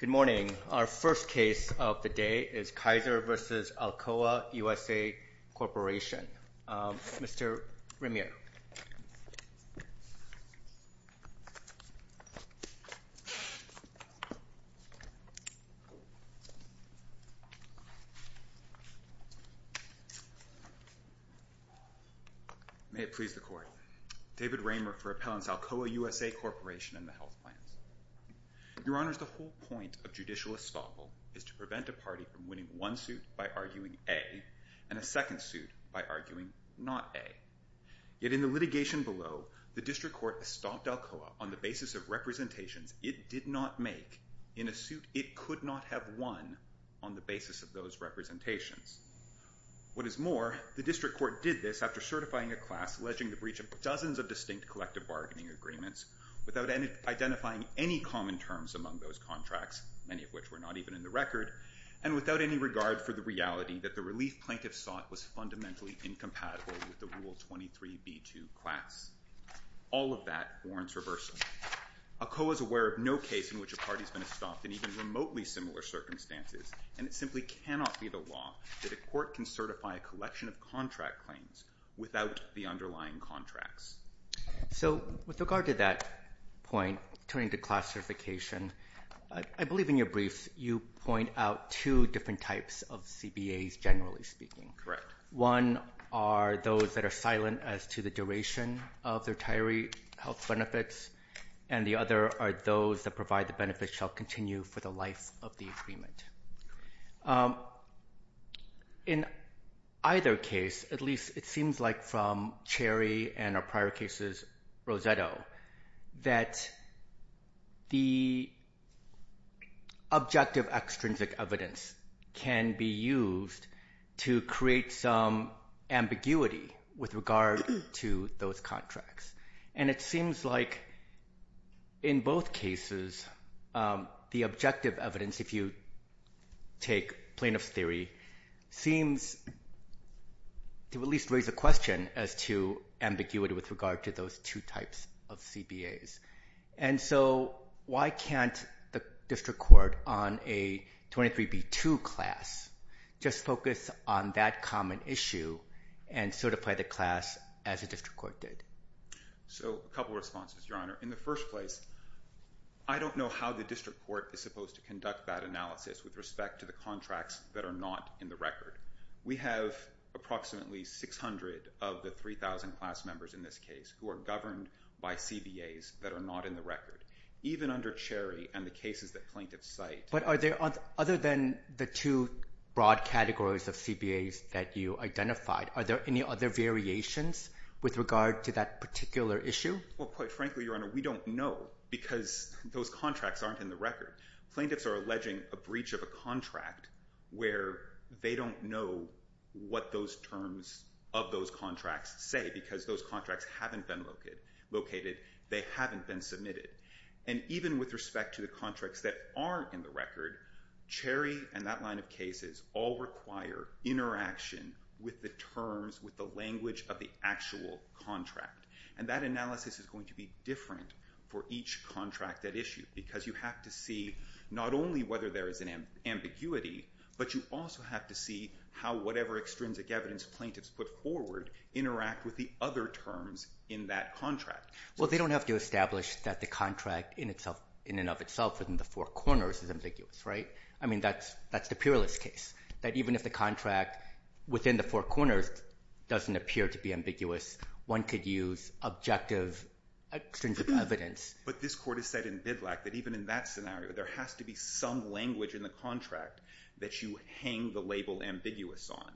Good morning. Our first case of the day is Kaiser v. Alcoa USA Corp. Mr. Ramire. May it please the Court. David Ramire for Appellants Alcoa USA Corp. and the Health Plans. Your Honors, the whole point of judicial estoppel is to prevent a party from winning one suit by arguing A and a second suit by arguing not A. Yet in the litigation below, the District Court estopped Alcoa on the basis of representations it did not make in a suit it could not have won on the basis of those representations. What is more, the District Court did this after certifying a class alleging the breach of dozens of distinct collective bargaining agreements, without identifying any common terms among those contracts, many of which were not even in the record, and without any regard for the reality that the relief plaintiffs sought was fundamentally incompatible with the Rule 23b2 class. All of that warrants reversal. Alcoa is aware of no case in which a party has been estopped in even remotely similar circumstances, and it simply cannot be the law that a court can certify a collection of contract claims without the underlying contracts. So with regard to that point, turning to classification, I believe in your briefs you point out two different types of CBAs, generally speaking. Correct. One are those that are silent as to the duration of the retiree health benefits, and the other are those that provide the benefits shall continue for the life of the agreement. In either case, at least it seems like from Cherry and our prior cases, Roseto, that the objective extrinsic evidence can be used to create some ambiguity with regard to those contracts. And it seems like in both cases the objective evidence, if you take plaintiff's theory, seems to at least raise a question as to ambiguity with regard to those two types of CBAs. And so why can't the district court on a 23B2 class just focus on that common issue and certify the class as a district court did? So a couple of responses, Your Honor. In the first place, I don't know how the district court is supposed to conduct that analysis with respect to the contracts that are not in the record. We have approximately 600 of the 3,000 class members in this case who are governed by CBAs that are not in the record, even under Cherry and the cases that plaintiffs cite. But other than the two broad categories of CBAs that you identified, are there any other variations with regard to that particular issue? Well, quite frankly, Your Honor, we don't know because those contracts aren't in the record. Plaintiffs are alleging a breach of a contract where they don't know what those terms of those contracts say because those contracts haven't been located, they haven't been submitted. And even with respect to the contracts that aren't in the record, Cherry and that line of cases all require interaction with the terms, with the language of the actual contract. And that analysis is going to be different for each contract at issue because you have to see not only whether there is an ambiguity, but you also have to see how whatever extrinsic evidence plaintiffs put forward interact with the other terms in that contract. Well, they don't have to establish that the contract in and of itself within the four corners is ambiguous, right? I mean, that's the peerless case, that even if the contract within the four corners doesn't appear to be ambiguous, one could use objective extrinsic evidence. But this Court has said in BIDLAC that even in that scenario, there has to be some language in the contract that you hang the label ambiguous on.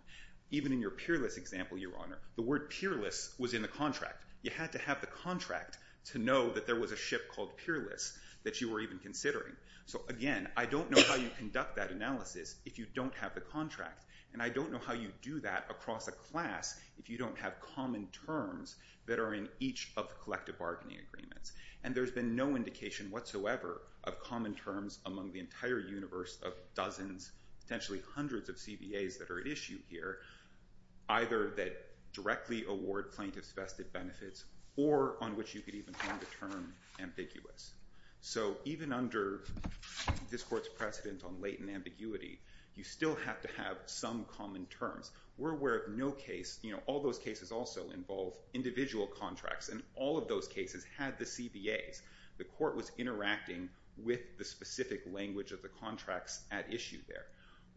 Even in your peerless example, Your Honor, the word peerless was in the contract. You had to have the contract to know that there was a ship called peerless that you were even considering. So again, I don't know how you conduct that analysis if you don't have the contract. And I don't know how you do that across a class if you don't have common terms that are in each of the collective bargaining agreements. And there's been no indication whatsoever of common terms among the entire universe of dozens, potentially hundreds of CBAs that are at issue here, either that directly award plaintiffs vested benefits or on which you could even hang the term ambiguous. So even under this Court's precedent on latent ambiguity, you still have to have some common terms. We're aware of no case – you know, all those cases also involve individual contracts, and all of those cases had the CBAs. The Court was interacting with the specific language of the contracts at issue there.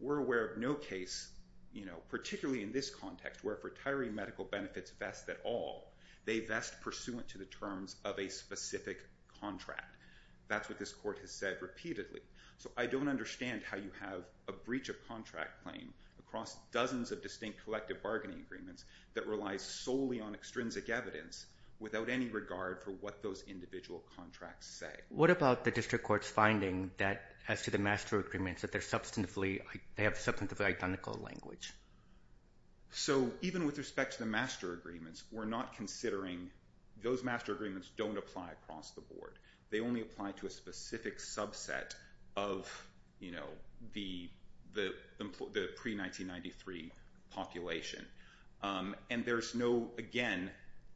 We're aware of no case, you know, particularly in this context, where if retiree medical benefits vest at all, they vest pursuant to the terms of a specific contract. That's what this Court has said repeatedly. So I don't understand how you have a breach of contract claim across dozens of distinct collective bargaining agreements that relies solely on extrinsic evidence without any regard for what those individual contracts say. What about the district court's finding that as to the master agreements that they're substantively – they have substantively identical language? So even with respect to the master agreements, we're not considering – those master agreements don't apply across the board. They only apply to a specific subset of, you know, the pre-1993 population. And there's no – again,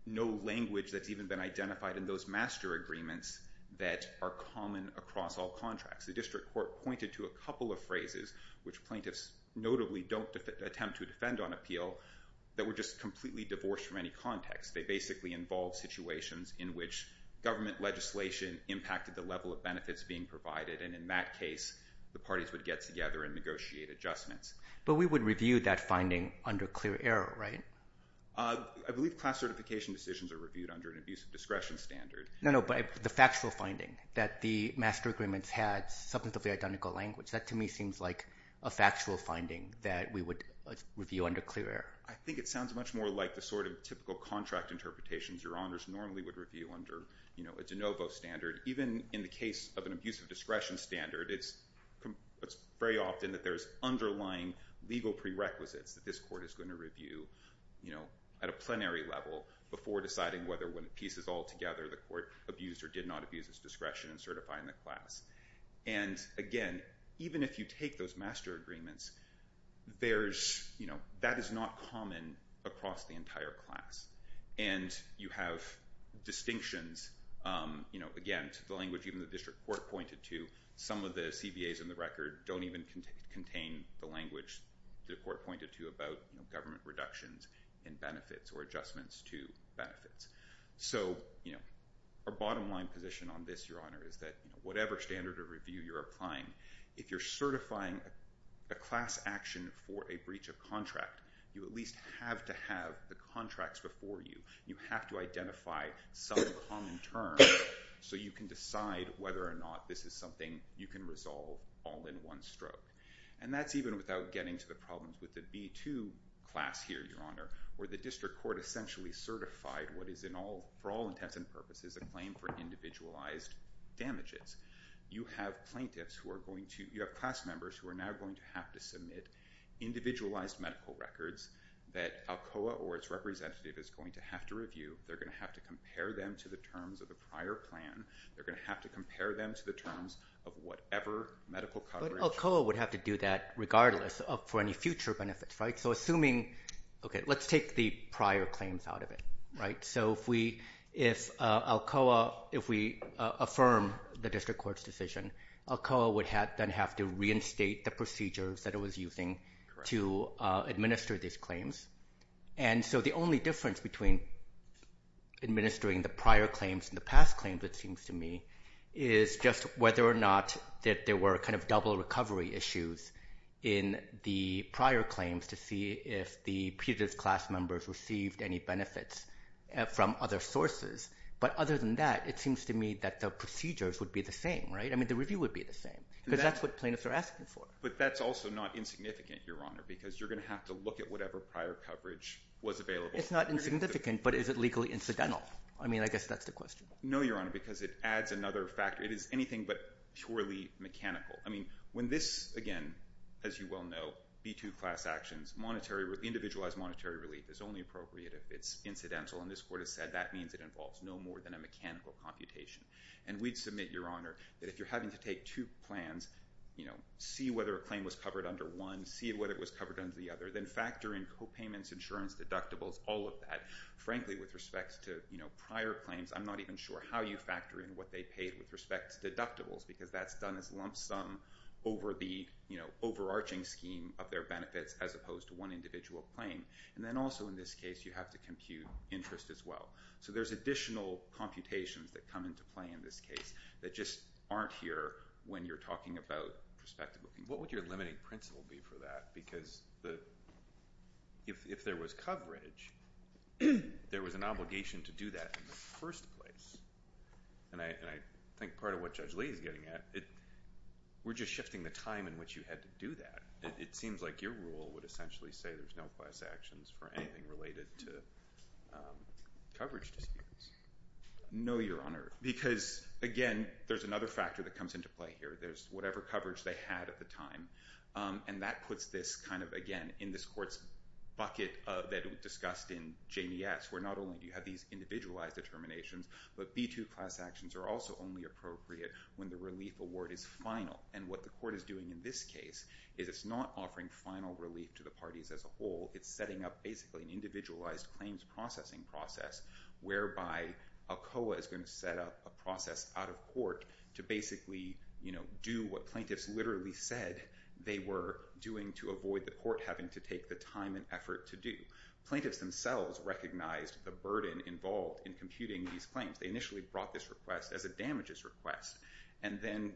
no language that's even been identified in those master agreements that are common across all contracts. The district court pointed to a couple of phrases, which plaintiffs notably don't attempt to defend on appeal, that were just completely divorced from any context. They basically involved situations in which government legislation impacted the level of benefits being provided. And in that case, the parties would get together and negotiate adjustments. But we would review that finding under clear error, right? I believe class certification decisions are reviewed under an abuse of discretion standard. No, no, but the factual finding that the master agreements had substantively identical language. That, to me, seems like a factual finding that we would review under clear error. I think it sounds much more like the sort of typical contract interpretations your honors normally would review under a de novo standard. Even in the case of an abuse of discretion standard, it's very often that there's underlying legal prerequisites that this court is going to review at a plenary level before deciding whether when it pieces all together the court abused or did not abuse its discretion in certifying the class. And again, even if you take those master agreements, that is not common across the entire class. And you have distinctions, again, to the language even the district court pointed to. Some of the CBAs in the record don't even contain the language the court pointed to about government reductions in benefits or adjustments to benefits. So our bottom line position on this, your honor, is that whatever standard of review you're applying, if you're certifying a class action for a breach of contract, you at least have to have the contracts before you. You have to identify some common terms so you can decide whether or not this is something you can resolve all in one stroke. And that's even without getting to the problem with the B2 class here, your honor, where the district court essentially certified what is, for all intents and purposes, a claim for individualized damages. You have plaintiffs who are going to, you have class members who are now going to have to submit individualized medical records that ALCOA or its representative is going to have to review. They're going to have to compare them to the terms of the prior plan. They're going to have to compare them to the terms of whatever medical coverage. But ALCOA would have to do that regardless for any future benefits, right? So assuming, okay, let's take the prior claims out of it, right? So if we, if ALCOA, if we affirm the district court's decision, ALCOA would then have to reinstate the procedures that it was using to administer these claims. And so the only difference between administering the prior claims and the past claims, it seems to me, is just whether or not that there were kind of double recovery issues in the prior claims to see if the previous class members received any benefits from other sources. But other than that, it seems to me that the procedures would be the same, right? I mean, the review would be the same because that's what plaintiffs are asking for. But that's also not insignificant, Your Honor, because you're going to have to look at whatever prior coverage was available. It's not insignificant, but is it legally incidental? I mean, I guess that's the question. No, Your Honor, because it adds another factor. It is anything but purely mechanical. I mean, when this, again, as you well know, B-2 class actions, individualized monetary relief is only appropriate if it's incidental. And this court has said that means it involves no more than a mechanical computation. And we'd submit, Your Honor, that if you're having to take two plans, see whether a claim was covered under one, see whether it was covered under the other, then factor in copayments, insurance, deductibles, all of that. Frankly, with respect to prior claims, I'm not even sure how you factor in what they paid with respect to deductibles because that's done as lump sum over the overarching scheme of their benefits as opposed to one individual claim. And then also in this case, you have to compute interest as well. So there's additional computations that come into play in this case that just aren't here when you're talking about prospective. What would your limiting principle be for that? Because if there was coverage, there was an obligation to do that in the first place. And I think part of what Judge Lee is getting at, we're just shifting the time in which you had to do that. It seems like your rule would essentially say there's no class actions for anything related to coverage disputes. No, Your Honor, because, again, there's another factor that comes into play here. There's whatever coverage they had at the time. And that puts this kind of, again, in this court's bucket that we discussed in JBS where not only do you have these individualized determinations, but B2 class actions are also only appropriate when the relief award is final. And what the court is doing in this case is it's not offering final relief to the parties as a whole. It's setting up basically an individualized claims processing process whereby ACOA is going to set up a process out of court to basically do what plaintiffs literally said they were doing to avoid the court having to take the time and effort to do. Plaintiffs themselves recognized the burden involved in computing these claims. They initially brought this request as a damages request. And then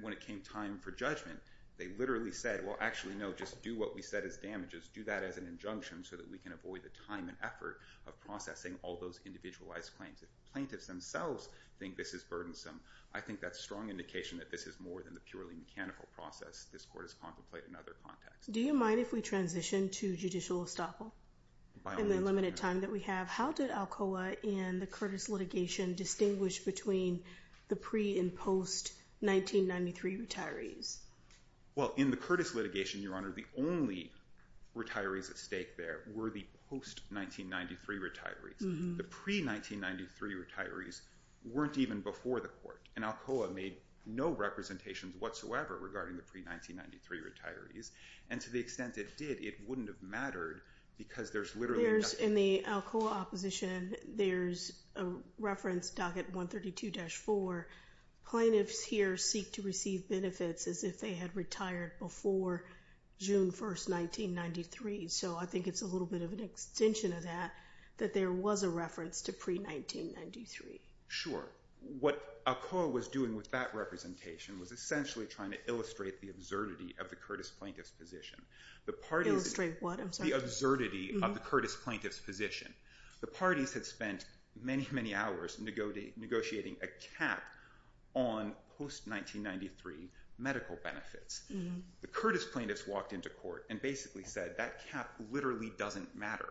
when it came time for judgment, they literally said, well, actually, no, just do what we said is damages. Do that as an injunction so that we can avoid the time and effort of processing all those individualized claims. Plaintiffs themselves think this is burdensome. I think that's a strong indication that this is more than the purely mechanical process this court has contemplated in other contexts. Do you mind if we transition to judicial estoppel in the limited time that we have? How did ACOA in the Curtis litigation distinguish between the pre- and post-1993 retirees? Well, in the Curtis litigation, Your Honor, the only retirees at stake there were the post-1993 retirees. The pre-1993 retirees weren't even before the court. And ACOA made no representations whatsoever regarding the pre-1993 retirees. And to the extent it did, it wouldn't have mattered because there's literally There's, in the ACOA opposition, there's a reference docket 132-4. Plaintiffs here seek to receive benefits as if they had retired before June 1, 1993. So I think it's a little bit of an extension of that, that there was a reference to pre-1993. Sure. What ACOA was doing with that representation was essentially trying to illustrate the absurdity of the Curtis plaintiff's position. Illustrate what? I'm sorry. The absurdity of the Curtis plaintiff's position. The parties had spent many, many hours negotiating a cap on post-1993 medical benefits. The Curtis plaintiffs walked into court and basically said, that cap literally doesn't matter.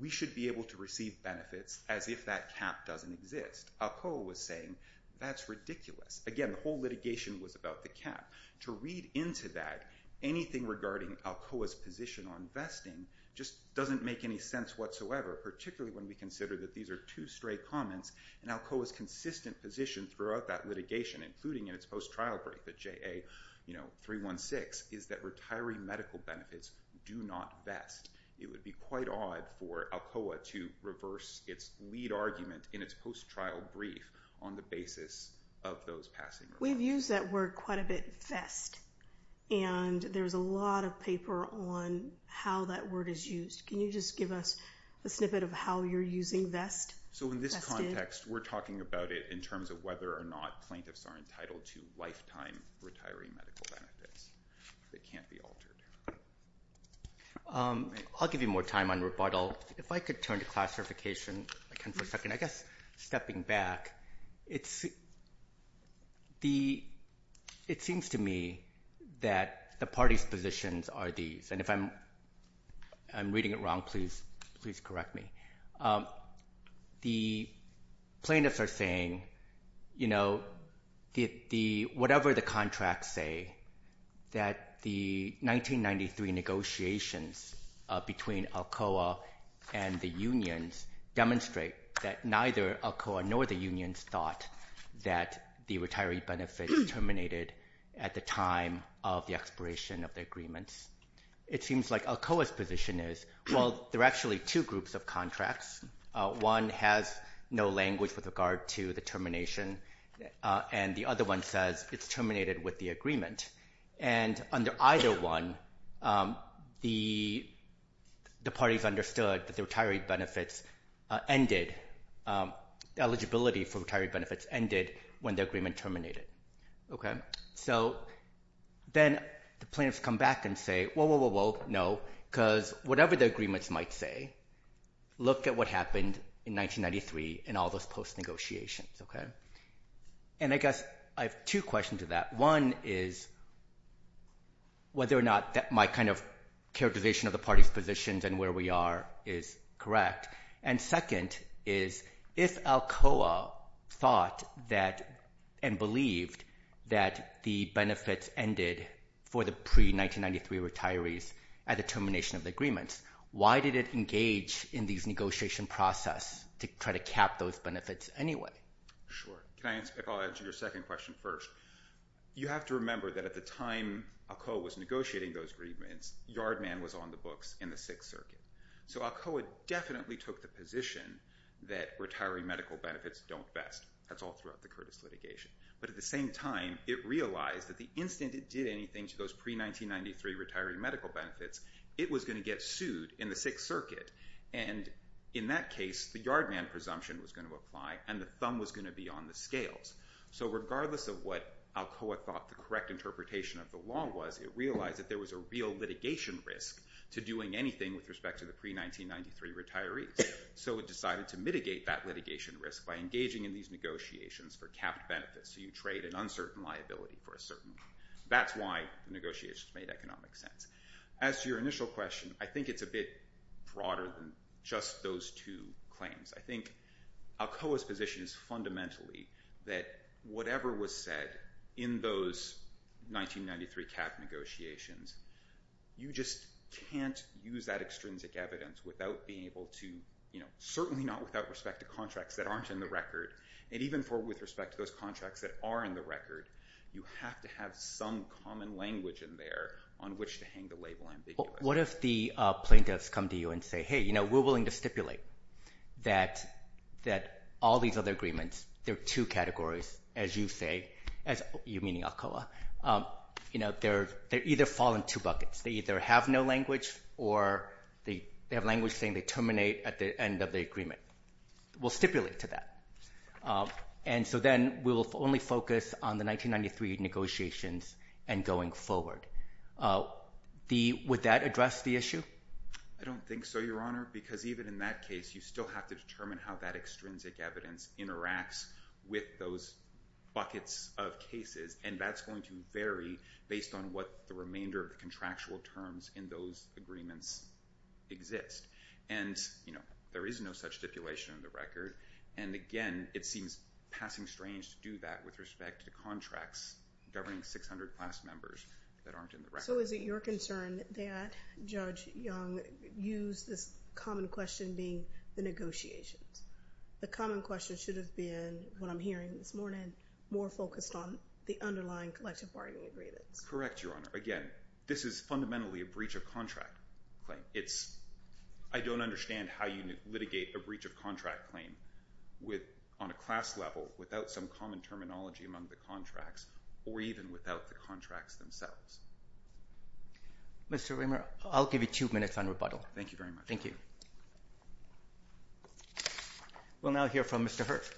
We should be able to receive benefits as if that cap doesn't exist. ACOA was saying, that's ridiculous. Again, the whole litigation was about the cap. To read into that, anything regarding ACOA's position on vesting just doesn't make any sense whatsoever, particularly when we consider that these are two stray comments. And ACOA's consistent position throughout that litigation, including in its post-trial brief at JA 316, is that retiring medical benefits do not vest. It would be quite odd for ACOA to reverse its lead argument in its post-trial brief on the basis of those passing. We've used that word quite a bit, vest. And there's a lot of paper on how that word is used. Can you just give us a snippet of how you're using vest? So in this context, we're talking about it in terms of whether or not plaintiffs are entitled to lifetime retiring medical benefits that can't be altered. I'll give you more time on rebuttal. If I could turn to classification again for a second. I guess stepping back, it seems to me that the parties' positions are these. And if I'm reading it wrong, please correct me. The plaintiffs are saying, you know, whatever the contracts say, that the 1993 negotiations between ACOA and the unions demonstrate that neither ACOA nor the unions thought that the retiree benefits terminated at the time of the expiration of the agreements. It seems like ACOA's position is, well, there are actually two groups of contracts. One has no language with regard to the termination, and the other one says it's terminated with the agreement. And under either one, the parties understood that the retiree benefits ended, eligibility for retiree benefits ended when the agreement terminated. So then the plaintiffs come back and say, well, no, because whatever the agreements might say, look at what happened in 1993 and all those post-negotiations. And I guess I have two questions to that. One is whether or not my kind of characterization of the parties' positions and where we are is correct. And second is if ACOA thought that and believed that the benefits ended for the pre-1993 retirees at the termination of the agreements, why did it engage in these negotiation process to try to cap those benefits anyway? Sure. If I'll answer your second question first. You have to remember that at the time ACOA was negotiating those agreements, Yardman was on the books in the Sixth Circuit. So ACOA definitely took the position that retiree medical benefits don't vest. That's all throughout the Curtis litigation. But at the same time, it realized that the instant it did anything to those pre-1993 retiree medical benefits, it was going to get sued in the Sixth Circuit. And in that case, the Yardman presumption was going to apply, and the thumb was going to be on the scales. So regardless of what ACOA thought the correct interpretation of the law was, it realized that there was a real litigation risk to doing anything with respect to the pre-1993 retirees. So it decided to mitigate that litigation risk by engaging in these negotiations for capped benefits. So you trade an uncertain liability for a certain one. That's why the negotiations made economic sense. As to your initial question, I think it's a bit broader than just those two claims. I think ACOA's position is fundamentally that whatever was said in those 1993 cap negotiations, you just can't use that extrinsic evidence without being able to, you know, certainly not without respect to contracts that aren't in the record. And even with respect to those contracts that are in the record, you have to have some common language in there on which to hang the label ambiguous. What if the plaintiffs come to you and say, hey, you know, we're willing to stipulate that all these other agreements, there are two categories, as you say, you meaning ACOA, you know, they either fall in two buckets. They either have no language or they have language saying they terminate at the end of the agreement. We'll stipulate to that. And so then we'll only focus on the 1993 negotiations and going forward. Would that address the issue? I don't think so, Your Honor, because even in that case, you still have to determine how that extrinsic evidence interacts with those buckets of cases. And that's going to vary based on what the remainder of the contractual terms in those agreements exist. And, you know, there is no such stipulation in the record. And, again, it seems passing strange to do that with respect to contracts governing 600 class members that aren't in the record. So is it your concern that Judge Young used this common question being the negotiations? The common question should have been what I'm hearing this morning, more focused on the underlying collective bargaining agreements. Correct, Your Honor. Again, this is fundamentally a breach of contract claim. I don't understand how you litigate a breach of contract claim on a class level without some common terminology among the contracts or even without the contracts themselves. Mr. Rimmer, I'll give you two minutes on rebuttal. Thank you very much. Thank you. We'll now hear from Mr. Hirt.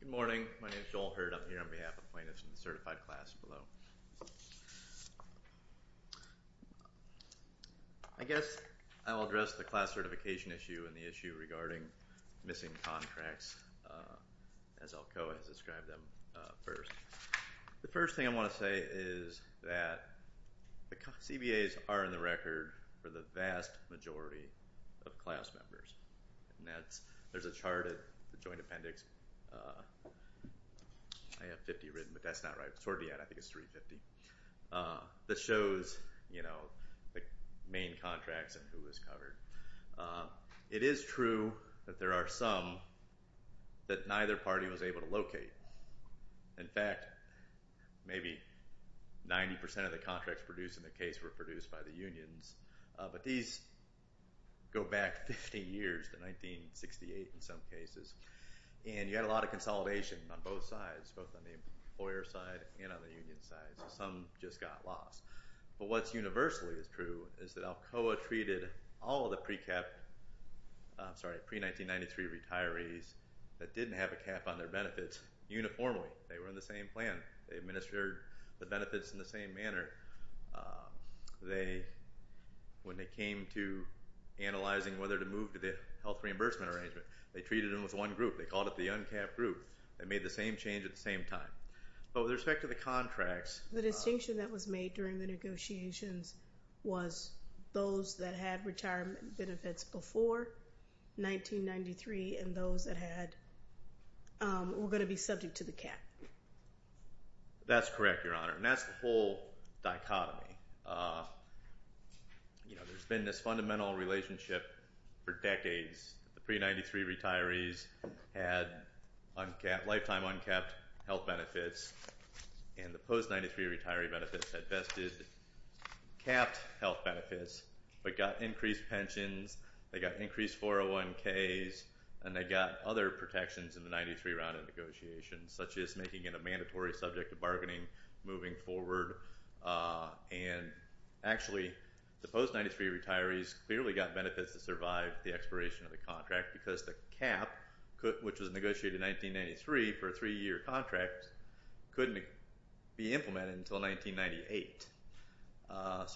Good morning. My name is Joel Hirt. I'm here on behalf of plaintiffs in the certified class below. I guess I will address the class certification issue and the issue regarding missing contracts as Alcoa has described them first. The first thing I want to say is that the CBAs are in the record for the vast majority of class members. There's a chart at the joint appendix. I have 50 written, but that's not right. It's already out. I think it's 350. This shows the main contracts and who is covered. It is true that there are some that neither party was able to locate. In fact, maybe 90% of the contracts produced in the case were produced by the unions, but these go back 50 years to 1968 in some cases. You had a lot of consolidation on both sides, both on the employer side and on the union side, so some just got lost. What's universally true is that Alcoa treated all of the pre-1993 retirees that didn't have a cap on their benefits uniformly. They were in the same plan. They administered the benefits in the same manner. When they came to analyzing whether to move to the health reimbursement arrangement, they treated them with one group. They called it the uncapped group. They made the same change at the same time. The distinction that was made during the negotiations was those that had retirement benefits before 1993 and those that were going to be subject to the cap. That's correct, Your Honor, and that's the whole dichotomy. There's been this fundamental relationship for decades. The pre-1993 retirees had lifetime uncapped health benefits, and the post-1993 retiree benefits had vested capped health benefits, but got increased pensions. They got increased 401ks, and they got other protections in the 1993 round of negotiations, such as making it a mandatory subject of bargaining moving forward. Actually, the post-1993 retirees clearly got benefits to survive the expiration of the contract because the cap, which was negotiated in 1993 for a three-year contract, couldn't be implemented until 1998.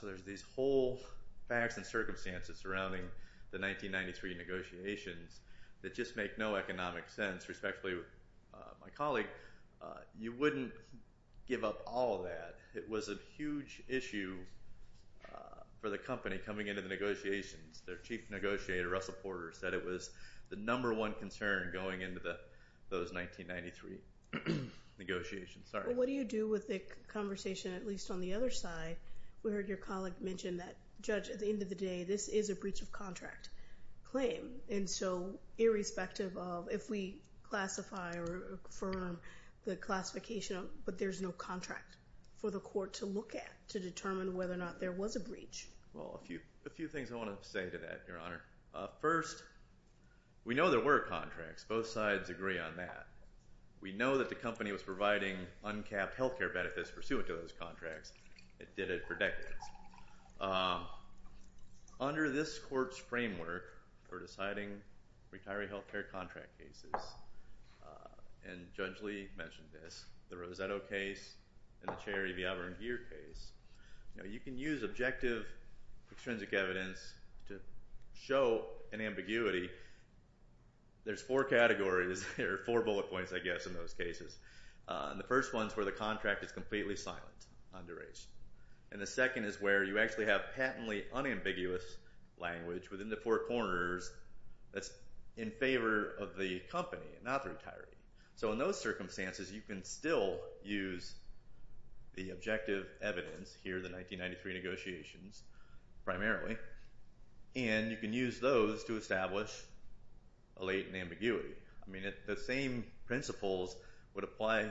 There's these whole facts and circumstances surrounding the 1993 negotiations that just make no economic sense, respectfully with my colleague. You wouldn't give up all of that. It was a huge issue for the company coming into the negotiations. Their chief negotiator, Russell Porter, said it was the number one concern going into those 1993 negotiations. What do you do with the conversation, at least on the other side? We heard your colleague mention that, Judge, at the end of the day, this is a breach of contract claim. Irrespective of if we classify or confirm the classification, but there's no contract for the court to look at to determine whether or not there was a breach. Well, a few things I want to say to that, Your Honor. First, we know there were contracts. Both sides agree on that. We know that the company was providing uncapped health care benefits pursuant to those contracts. It did it for decades. Under this court's framework for deciding retiree health care contract cases, and Judge Lee mentioned this, the Rosetto case and the Cherry, Viabra, and Gear case, you can use objective extrinsic evidence to show an ambiguity. There's four categories, or four bullet points, I guess, in those cases. The first one is where the contract is completely silent, underage. And the second is where you actually have patently unambiguous language within the four corners that's in favor of the company, not the retiree. So in those circumstances, you can still use the objective evidence here, the 1993 negotiations, primarily, and you can use those to establish a latent ambiguity. I mean, the same principles would apply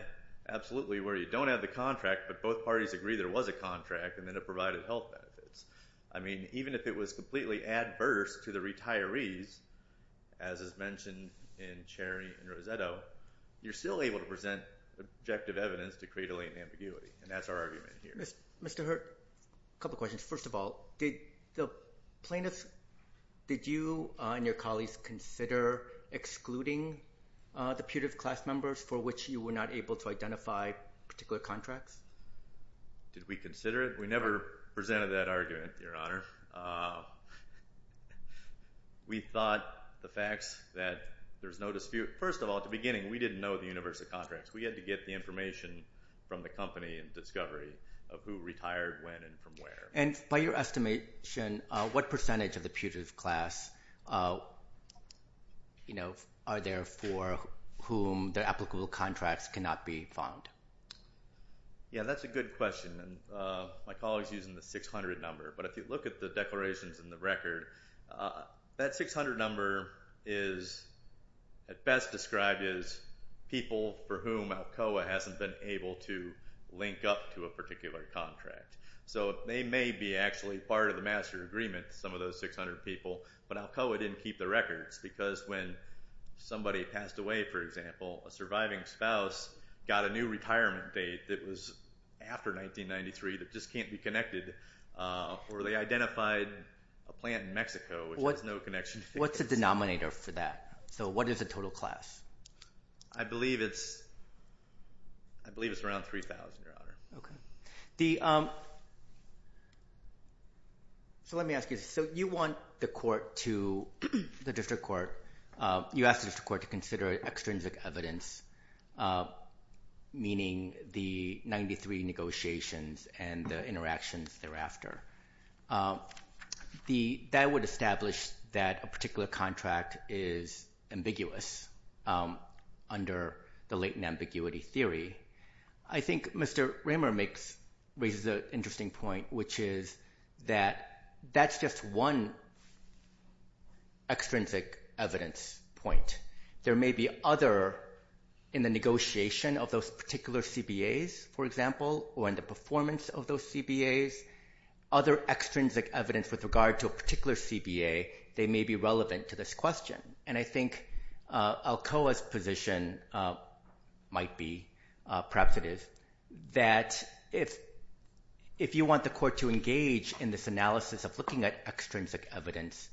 absolutely where you don't have the contract, but both parties agree there was a contract, and then it provided health benefits. I mean, even if it was completely adverse to the retirees, as is mentioned in Cherry and Rosetto, you're still able to present objective evidence to create a latent ambiguity. And that's our argument here. Mr. Hurt, a couple questions. First of all, did the plaintiffs, did you and your colleagues consider excluding the putative class members for which you were not able to identify particular contracts? Did we consider it? We never presented that argument, Your Honor. We thought the facts that there's no dispute. First of all, at the beginning, we didn't know the universe of contracts. We had to get the information from the company and discovery of who retired when and from where. And by your estimation, what percentage of the putative class are there for whom the applicable contracts cannot be found? Yeah, that's a good question, and my colleague's using the 600 number. But if you look at the declarations in the record, that 600 number is at best described as people for whom ALCOA hasn't been able to link up to a particular contract. So they may be actually part of the master agreement, some of those 600 people, but ALCOA didn't keep the records because when somebody passed away, for example, a surviving spouse got a new retirement date that was after 1993 that just can't be connected, or they identified a plant in Mexico which has no connection. What's the denominator for that? So what is the total class? I believe it's around 3,000, Your Honor. Okay. So let me ask you this. So you want the court to – the district court – you asked the district court to consider extrinsic evidence, meaning the 1993 negotiations and the interactions thereafter. That would establish that a particular contract is ambiguous under the latent ambiguity theory. I think Mr. Ramer raises an interesting point, which is that that's just one extrinsic evidence point. There may be other in the negotiation of those particular CBAs, for example, or in the performance of those CBAs, other extrinsic evidence with regard to a particular CBA that may be relevant to this question. And I think ALCOA's position might be – perhaps it is – that if you want the court to engage in this analysis of looking at extrinsic evidence,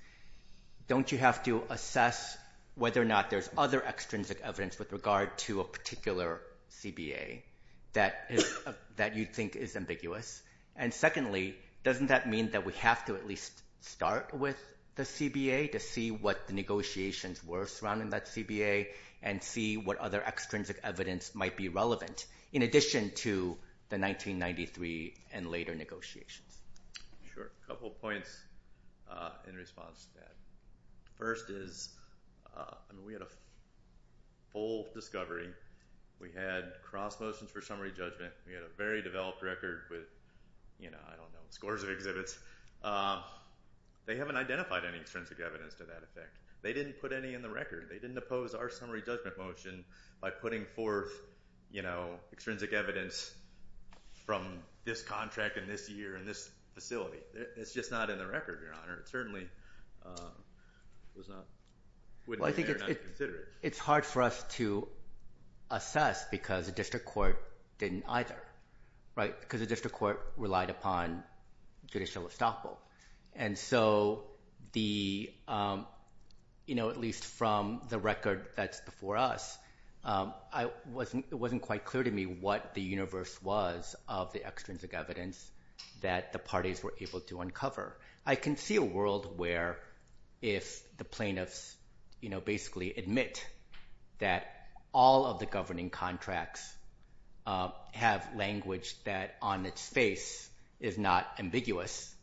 don't you have to assess whether or not there's other extrinsic evidence with regard to a particular CBA that you think is ambiguous? And secondly, doesn't that mean that we have to at least start with the CBA to see what the negotiations were surrounding that CBA and see what other extrinsic evidence might be relevant in addition to the 1993 and later negotiations? Sure. A couple points in response to that. First is we had a full discovery. We had cross motions for summary judgment. We had a very developed record with – I don't know – scores of exhibits. They haven't identified any extrinsic evidence to that effect. They didn't put any in the record. They didn't oppose our summary judgment motion by putting forth extrinsic evidence from this contract in this year in this facility. It's just not in the record, Your Honor. It certainly was not – wouldn't be fair not to consider it. Well, I think it's hard for us to assess because the district court didn't either because the district court relied upon judicial estoppel. And so the – at least from the record that's before us, it wasn't quite clear to me what the universe was of the extrinsic evidence that the parties were able to uncover. I can see a world where if the plaintiffs basically admit that all of the governing contracts have language that on its face is not ambiguous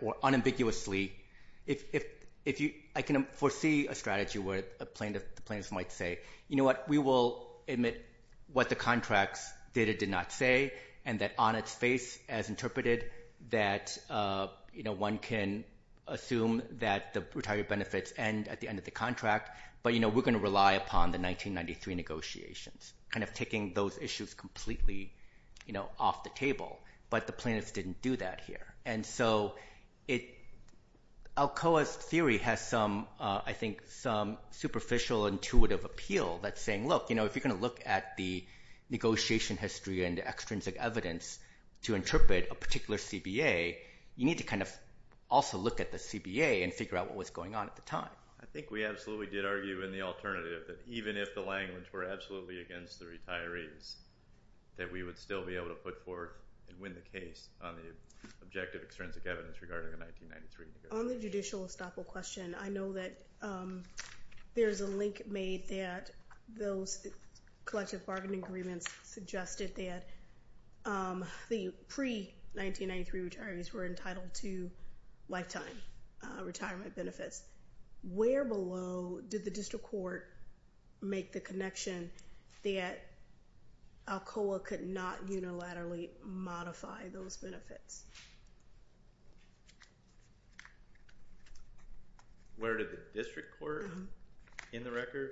or unambiguously – I can foresee a strategy where the plaintiffs might say, you know what, we will admit what the contracts did or did not say and that on its face as interpreted that one can assume that the retiree benefits end at the end of the contract, but we're going to rely upon the 1993 negotiations kind of taking those issues completely off the table. But the plaintiffs didn't do that here. And so it – Alcoa's theory has some, I think, some superficial intuitive appeal that's saying, look, if you're going to look at the negotiation history and the extrinsic evidence to interpret a particular CBA, you need to kind of also look at the CBA and figure out what was going on at the time. I think we absolutely did argue in the alternative that even if the language were absolutely against the retirees, that we would still be able to put forth and win the case on the objective extrinsic evidence regarding the 1993 negotiations. And on the judicial estoppel question, I know that there's a link made that those collective bargaining agreements suggested that the pre-1993 retirees were entitled to lifetime retirement benefits. Where below did the district court make the connection that Alcoa could not unilaterally modify those benefits? Where did the district court in the record?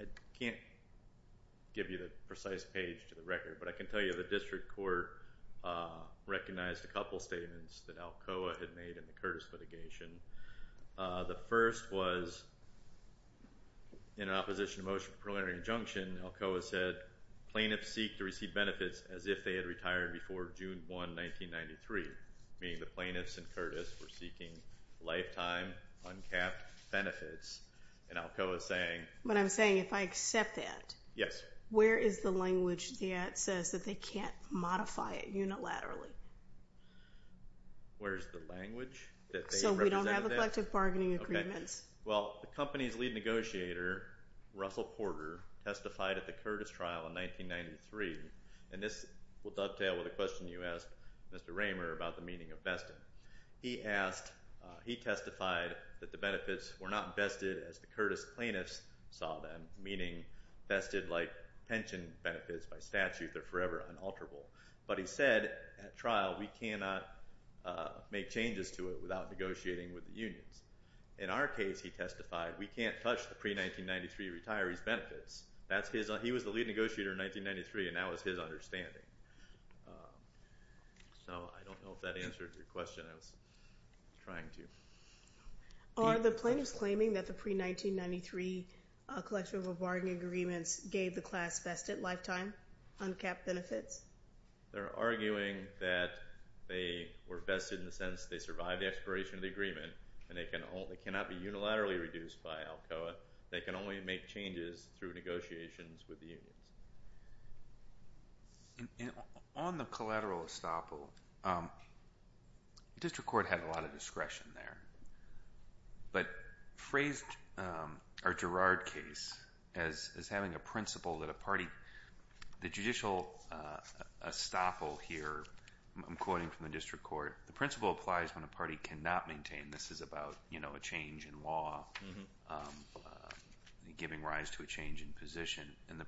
I can't give you the precise page to the record, but I can tell you the district court recognized a couple statements that Alcoa had made in the Curtis litigation. The first was in opposition to motion preliminary injunction, Alcoa said, plaintiffs seek to receive benefits as if they had retired before June 1, 1993, meaning the plaintiffs and Curtis were seeking lifetime uncapped benefits. And Alcoa is saying... What I'm saying, if I accept that... Yes. Where is the language that says that they can't modify it unilaterally? Where is the language that they represented that? So we don't have collective bargaining agreements. Well, the company's lead negotiator, Russell Porter, testified at the Curtis trial in 1993, and this will dovetail with a question you asked Mr. Raymer about the meaning of vested. He asked, he testified that the benefits were not vested as the Curtis plaintiffs saw them, meaning vested like pension benefits by statute that are forever unalterable. But he said, at trial, we cannot make changes to it without negotiating with the unions. In our case, he testified, we can't touch the pre-1993 retirees' benefits. He was the lead negotiator in 1993, and that was his understanding. So I don't know if that answered your question. I was trying to. Are the plaintiffs claiming that the pre-1993 collective bargaining agreements gave the class vested lifetime uncapped benefits? They're arguing that they were vested in the sense they survived the expiration of the agreement and they cannot be unilaterally reduced by ALCOA. They can only make changes through negotiations with the union. On the collateral estoppel, the district court had a lot of discretion there, but phrased our Girard case as having a principle that a party, the judicial estoppel here, I'm quoting from the district court, the principle applies when a party cannot maintain. This is about a change in law, giving rise to a change in position. And the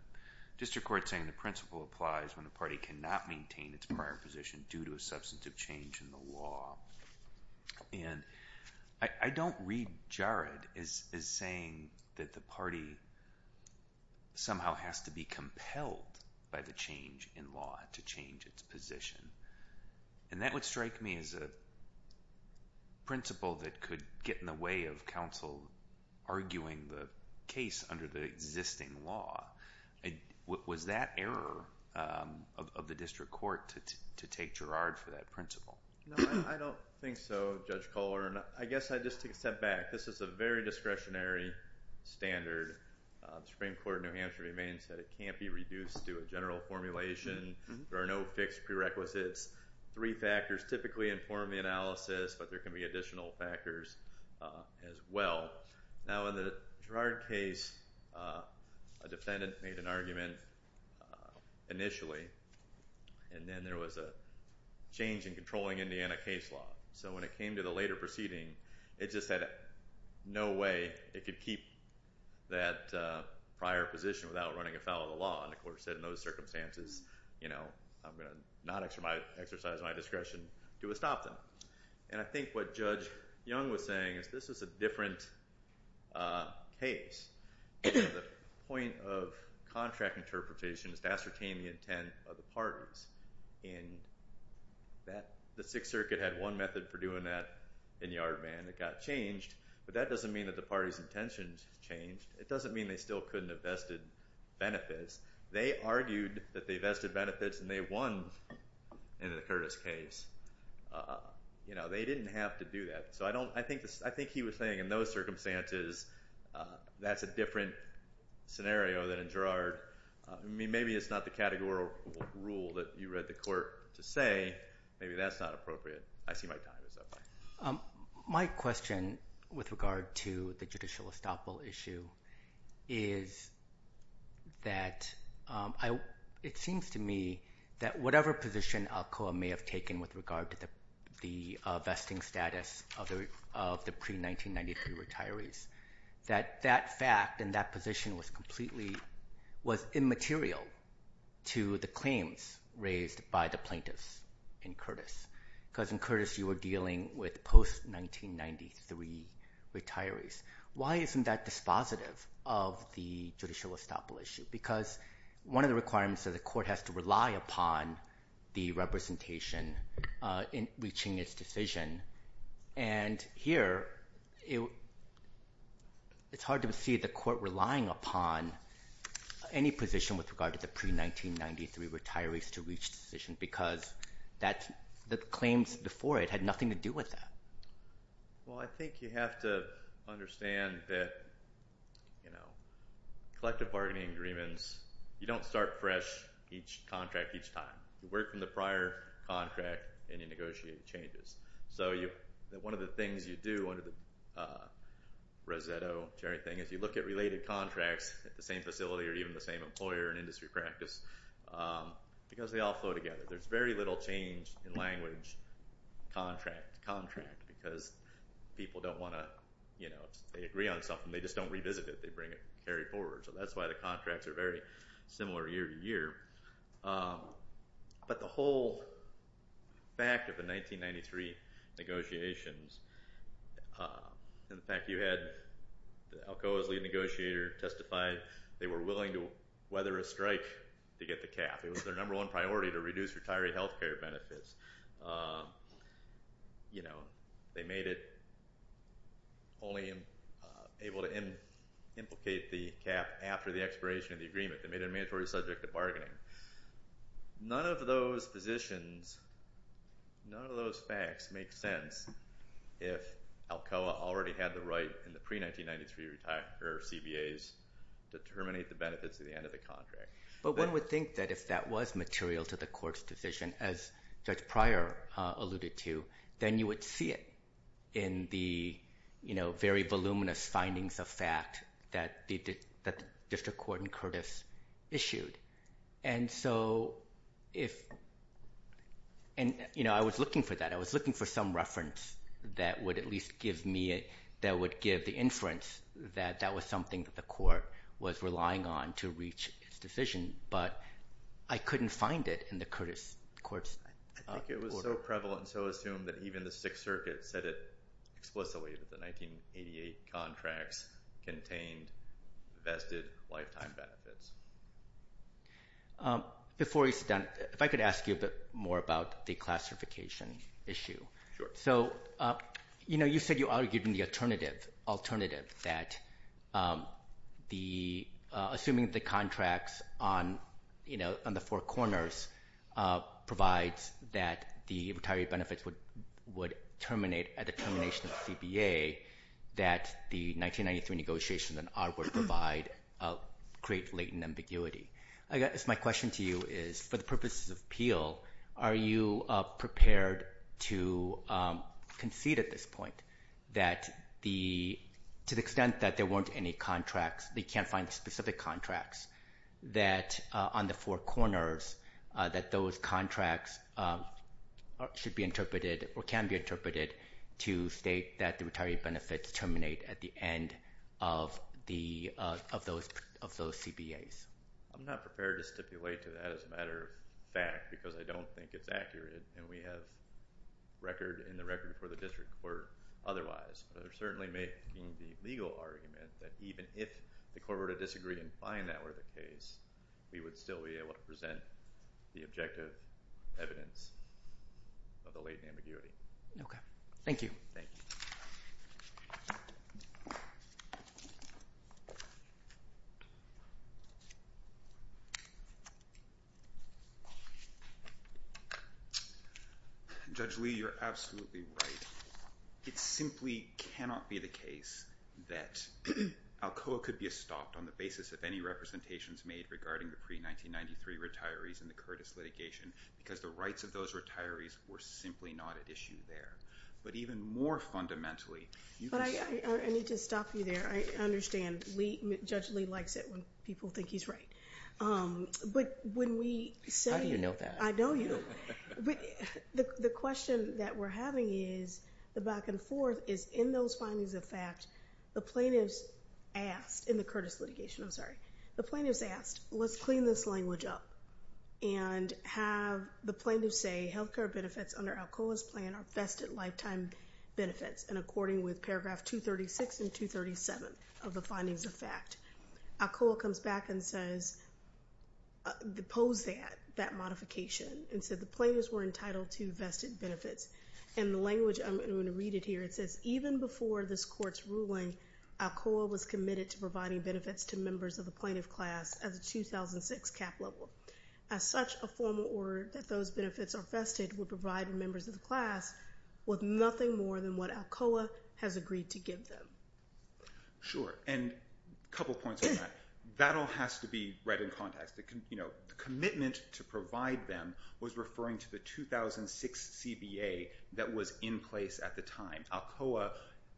district court is saying the principle applies when the party cannot maintain its prior position due to a substantive change in the law. And I don't read Girard as saying that the party somehow has to be compelled by the change in law to change its position. And that would strike me as a principle that could get in the way of counsel arguing the case under the existing law. Was that error of the district court to take Girard for that principle? No, I don't think so, Judge Kohler. And I guess I'd just take a step back. This is a very discretionary standard. The Supreme Court of New Hampshire remains that it can't be reduced to a general formulation. There are no fixed prerequisites. Three factors typically inform the analysis, but there can be additional factors as well. Now, in the Girard case, a defendant made an argument initially, and then there was a change in controlling Indiana case law. So when it came to the later proceeding, it just had no way it could keep that prior position without running afoul of the law. And the court said in those circumstances, you know, I'm going to not exercise my discretion to stop them. And I think what Judge Young was saying is this is a different case. The point of contract interpretation is to ascertain the intent of the parties. And the Sixth Circuit had one method for doing that in Yardman. It got changed, but that doesn't mean that the parties' intentions changed. It doesn't mean they still couldn't have vested benefits. They argued that they vested benefits and they won in the Curtis case. You know, they didn't have to do that. So I think he was saying in those circumstances that's a different scenario than in Girard. I mean, maybe it's not the categorical rule that you read the court to say. Maybe that's not appropriate. I see my time is up. My question with regard to the judicial estoppel issue is that it seems to me that whatever position Alcoa may have taken with regard to the vesting status of the pre-1993 retirees, that that fact and that position was completely immaterial to the claims raised by the plaintiffs in Curtis. Because in Curtis you were dealing with post-1993 retirees. Why isn't that dispositive of the judicial estoppel issue? Because one of the requirements is the court has to rely upon the representation in reaching its decision. And here it's hard to see the court relying upon any position with regard to the pre-1993 retirees to reach decisions because the claims before it had nothing to do with that. Well, I think you have to understand that, you know, collective bargaining agreements, you don't start fresh each contract each time. You work from the prior contract and you negotiate changes. So one of the things you do, one of the Rosetto, Cherry thing, is you look at related contracts at the same facility or even the same employer and industry practice because they all flow together. There's very little change in language contract to contract because people don't want to, you know, if they agree on something they just don't revisit it, they bring it forward. So that's why the contracts are very similar year to year. But the whole fact of the 1993 negotiations and the fact you had Alcoa's lead negotiator testify they were willing to weather a strike to get the cap. It was their number one priority to reduce retiree health care benefits. You know, they made it only able to implicate the cap after the expiration of the agreement. They made it a mandatory subject of bargaining. None of those positions, none of those facts make sense if Alcoa already had the right in the pre-1993 CBAs to terminate the benefits at the end of the contract. But one would think that if that was material to the court's decision, as Judge Pryor alluded to, then you would see it in the, you know, very voluminous findings of fact that the district court in Curtis issued. And so if – and, you know, I was looking for that. I was looking for some reference that would at least give me – that would give the inference that that was something that the court was relying on to reach its decision. But I couldn't find it in the Curtis court's order. I think it was so prevalent and so assumed that even the Sixth Circuit said it explicitly that the 1988 contracts contained vested lifetime benefits. Before we sit down, if I could ask you a bit more about the classification issue. Sure. So, you know, you said you argued in the alternative that the – assuming the contracts on, you know, on the four corners provides that the retiree benefits would terminate at the termination of the CBA, that the 1993 negotiations and our work provide create latent ambiguity. I guess my question to you is for the purposes of appeal, are you prepared to concede at this point that the – to the extent that there weren't any contracts, they can't find specific contracts, that on the four corners that those contracts should be interpreted or can be interpreted to state that the retiree benefits terminate at the end of the – of those CBAs? I'm not prepared to stipulate to that as a matter of fact because I don't think it's accurate and we have record in the record for the district court otherwise. They're certainly making the legal argument that even if the court were to disagree and find that were the case, we would still be able to present the objective evidence of the latent ambiguity. Okay. Thank you. Thank you. Judge Lee, you're absolutely right. It simply cannot be the case that Alcoa could be stopped on the basis of any representations made regarding the pre-1993 retirees in the Curtis litigation because the rights of those retirees were simply not at issue there. But even more fundamentally – But I need to stop you there. I understand Judge Lee likes it when people think he's right. But when we say – How do you know that? I know you. The question that we're having is the back and forth is in those findings of fact, the plaintiffs asked – in the Curtis litigation, I'm sorry. The plaintiffs asked, let's clean this language up and have the plaintiffs say, health care benefits under Alcoa's plan are best at lifetime benefits and according with paragraph 236 and 237 of the findings of fact. Alcoa comes back and says – opposed that modification and said the plaintiffs were entitled to vested benefits. And the language – I'm going to read it here. It says, even before this court's ruling, Alcoa was committed to providing benefits to members of the plaintiff class as a 2006 cap level. As such, a formal order that those benefits are vested would provide members of the class with nothing more than what Alcoa has agreed to give them. Sure. And a couple points on that. That all has to be read in context. The commitment to provide them was referring to the 2006 CBA that was in place at the time. Alcoa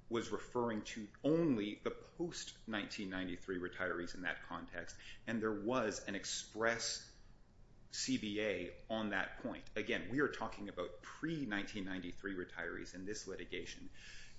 was referring to only the post-1993 retirees in that context. And there was an express CBA on that point. Again, we are talking about pre-1993 retirees in this litigation.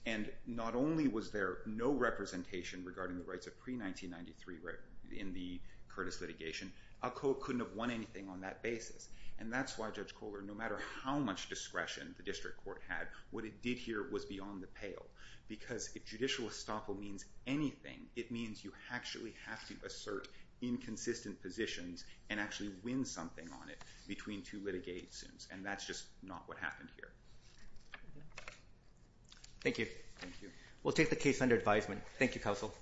And not only was there no representation regarding the rights of pre-1993 in the Curtis litigation, Alcoa couldn't have won anything on that basis. And that's why Judge Kohler, no matter how much discretion the district court had, what it did here was beyond the pale. Because if judicial estoppel means anything, it means you actually have to assert inconsistent positions and actually win something on it between two litigations. And that's just not what happened here. Thank you. We'll take the case under advisement. Thank you, Counsel.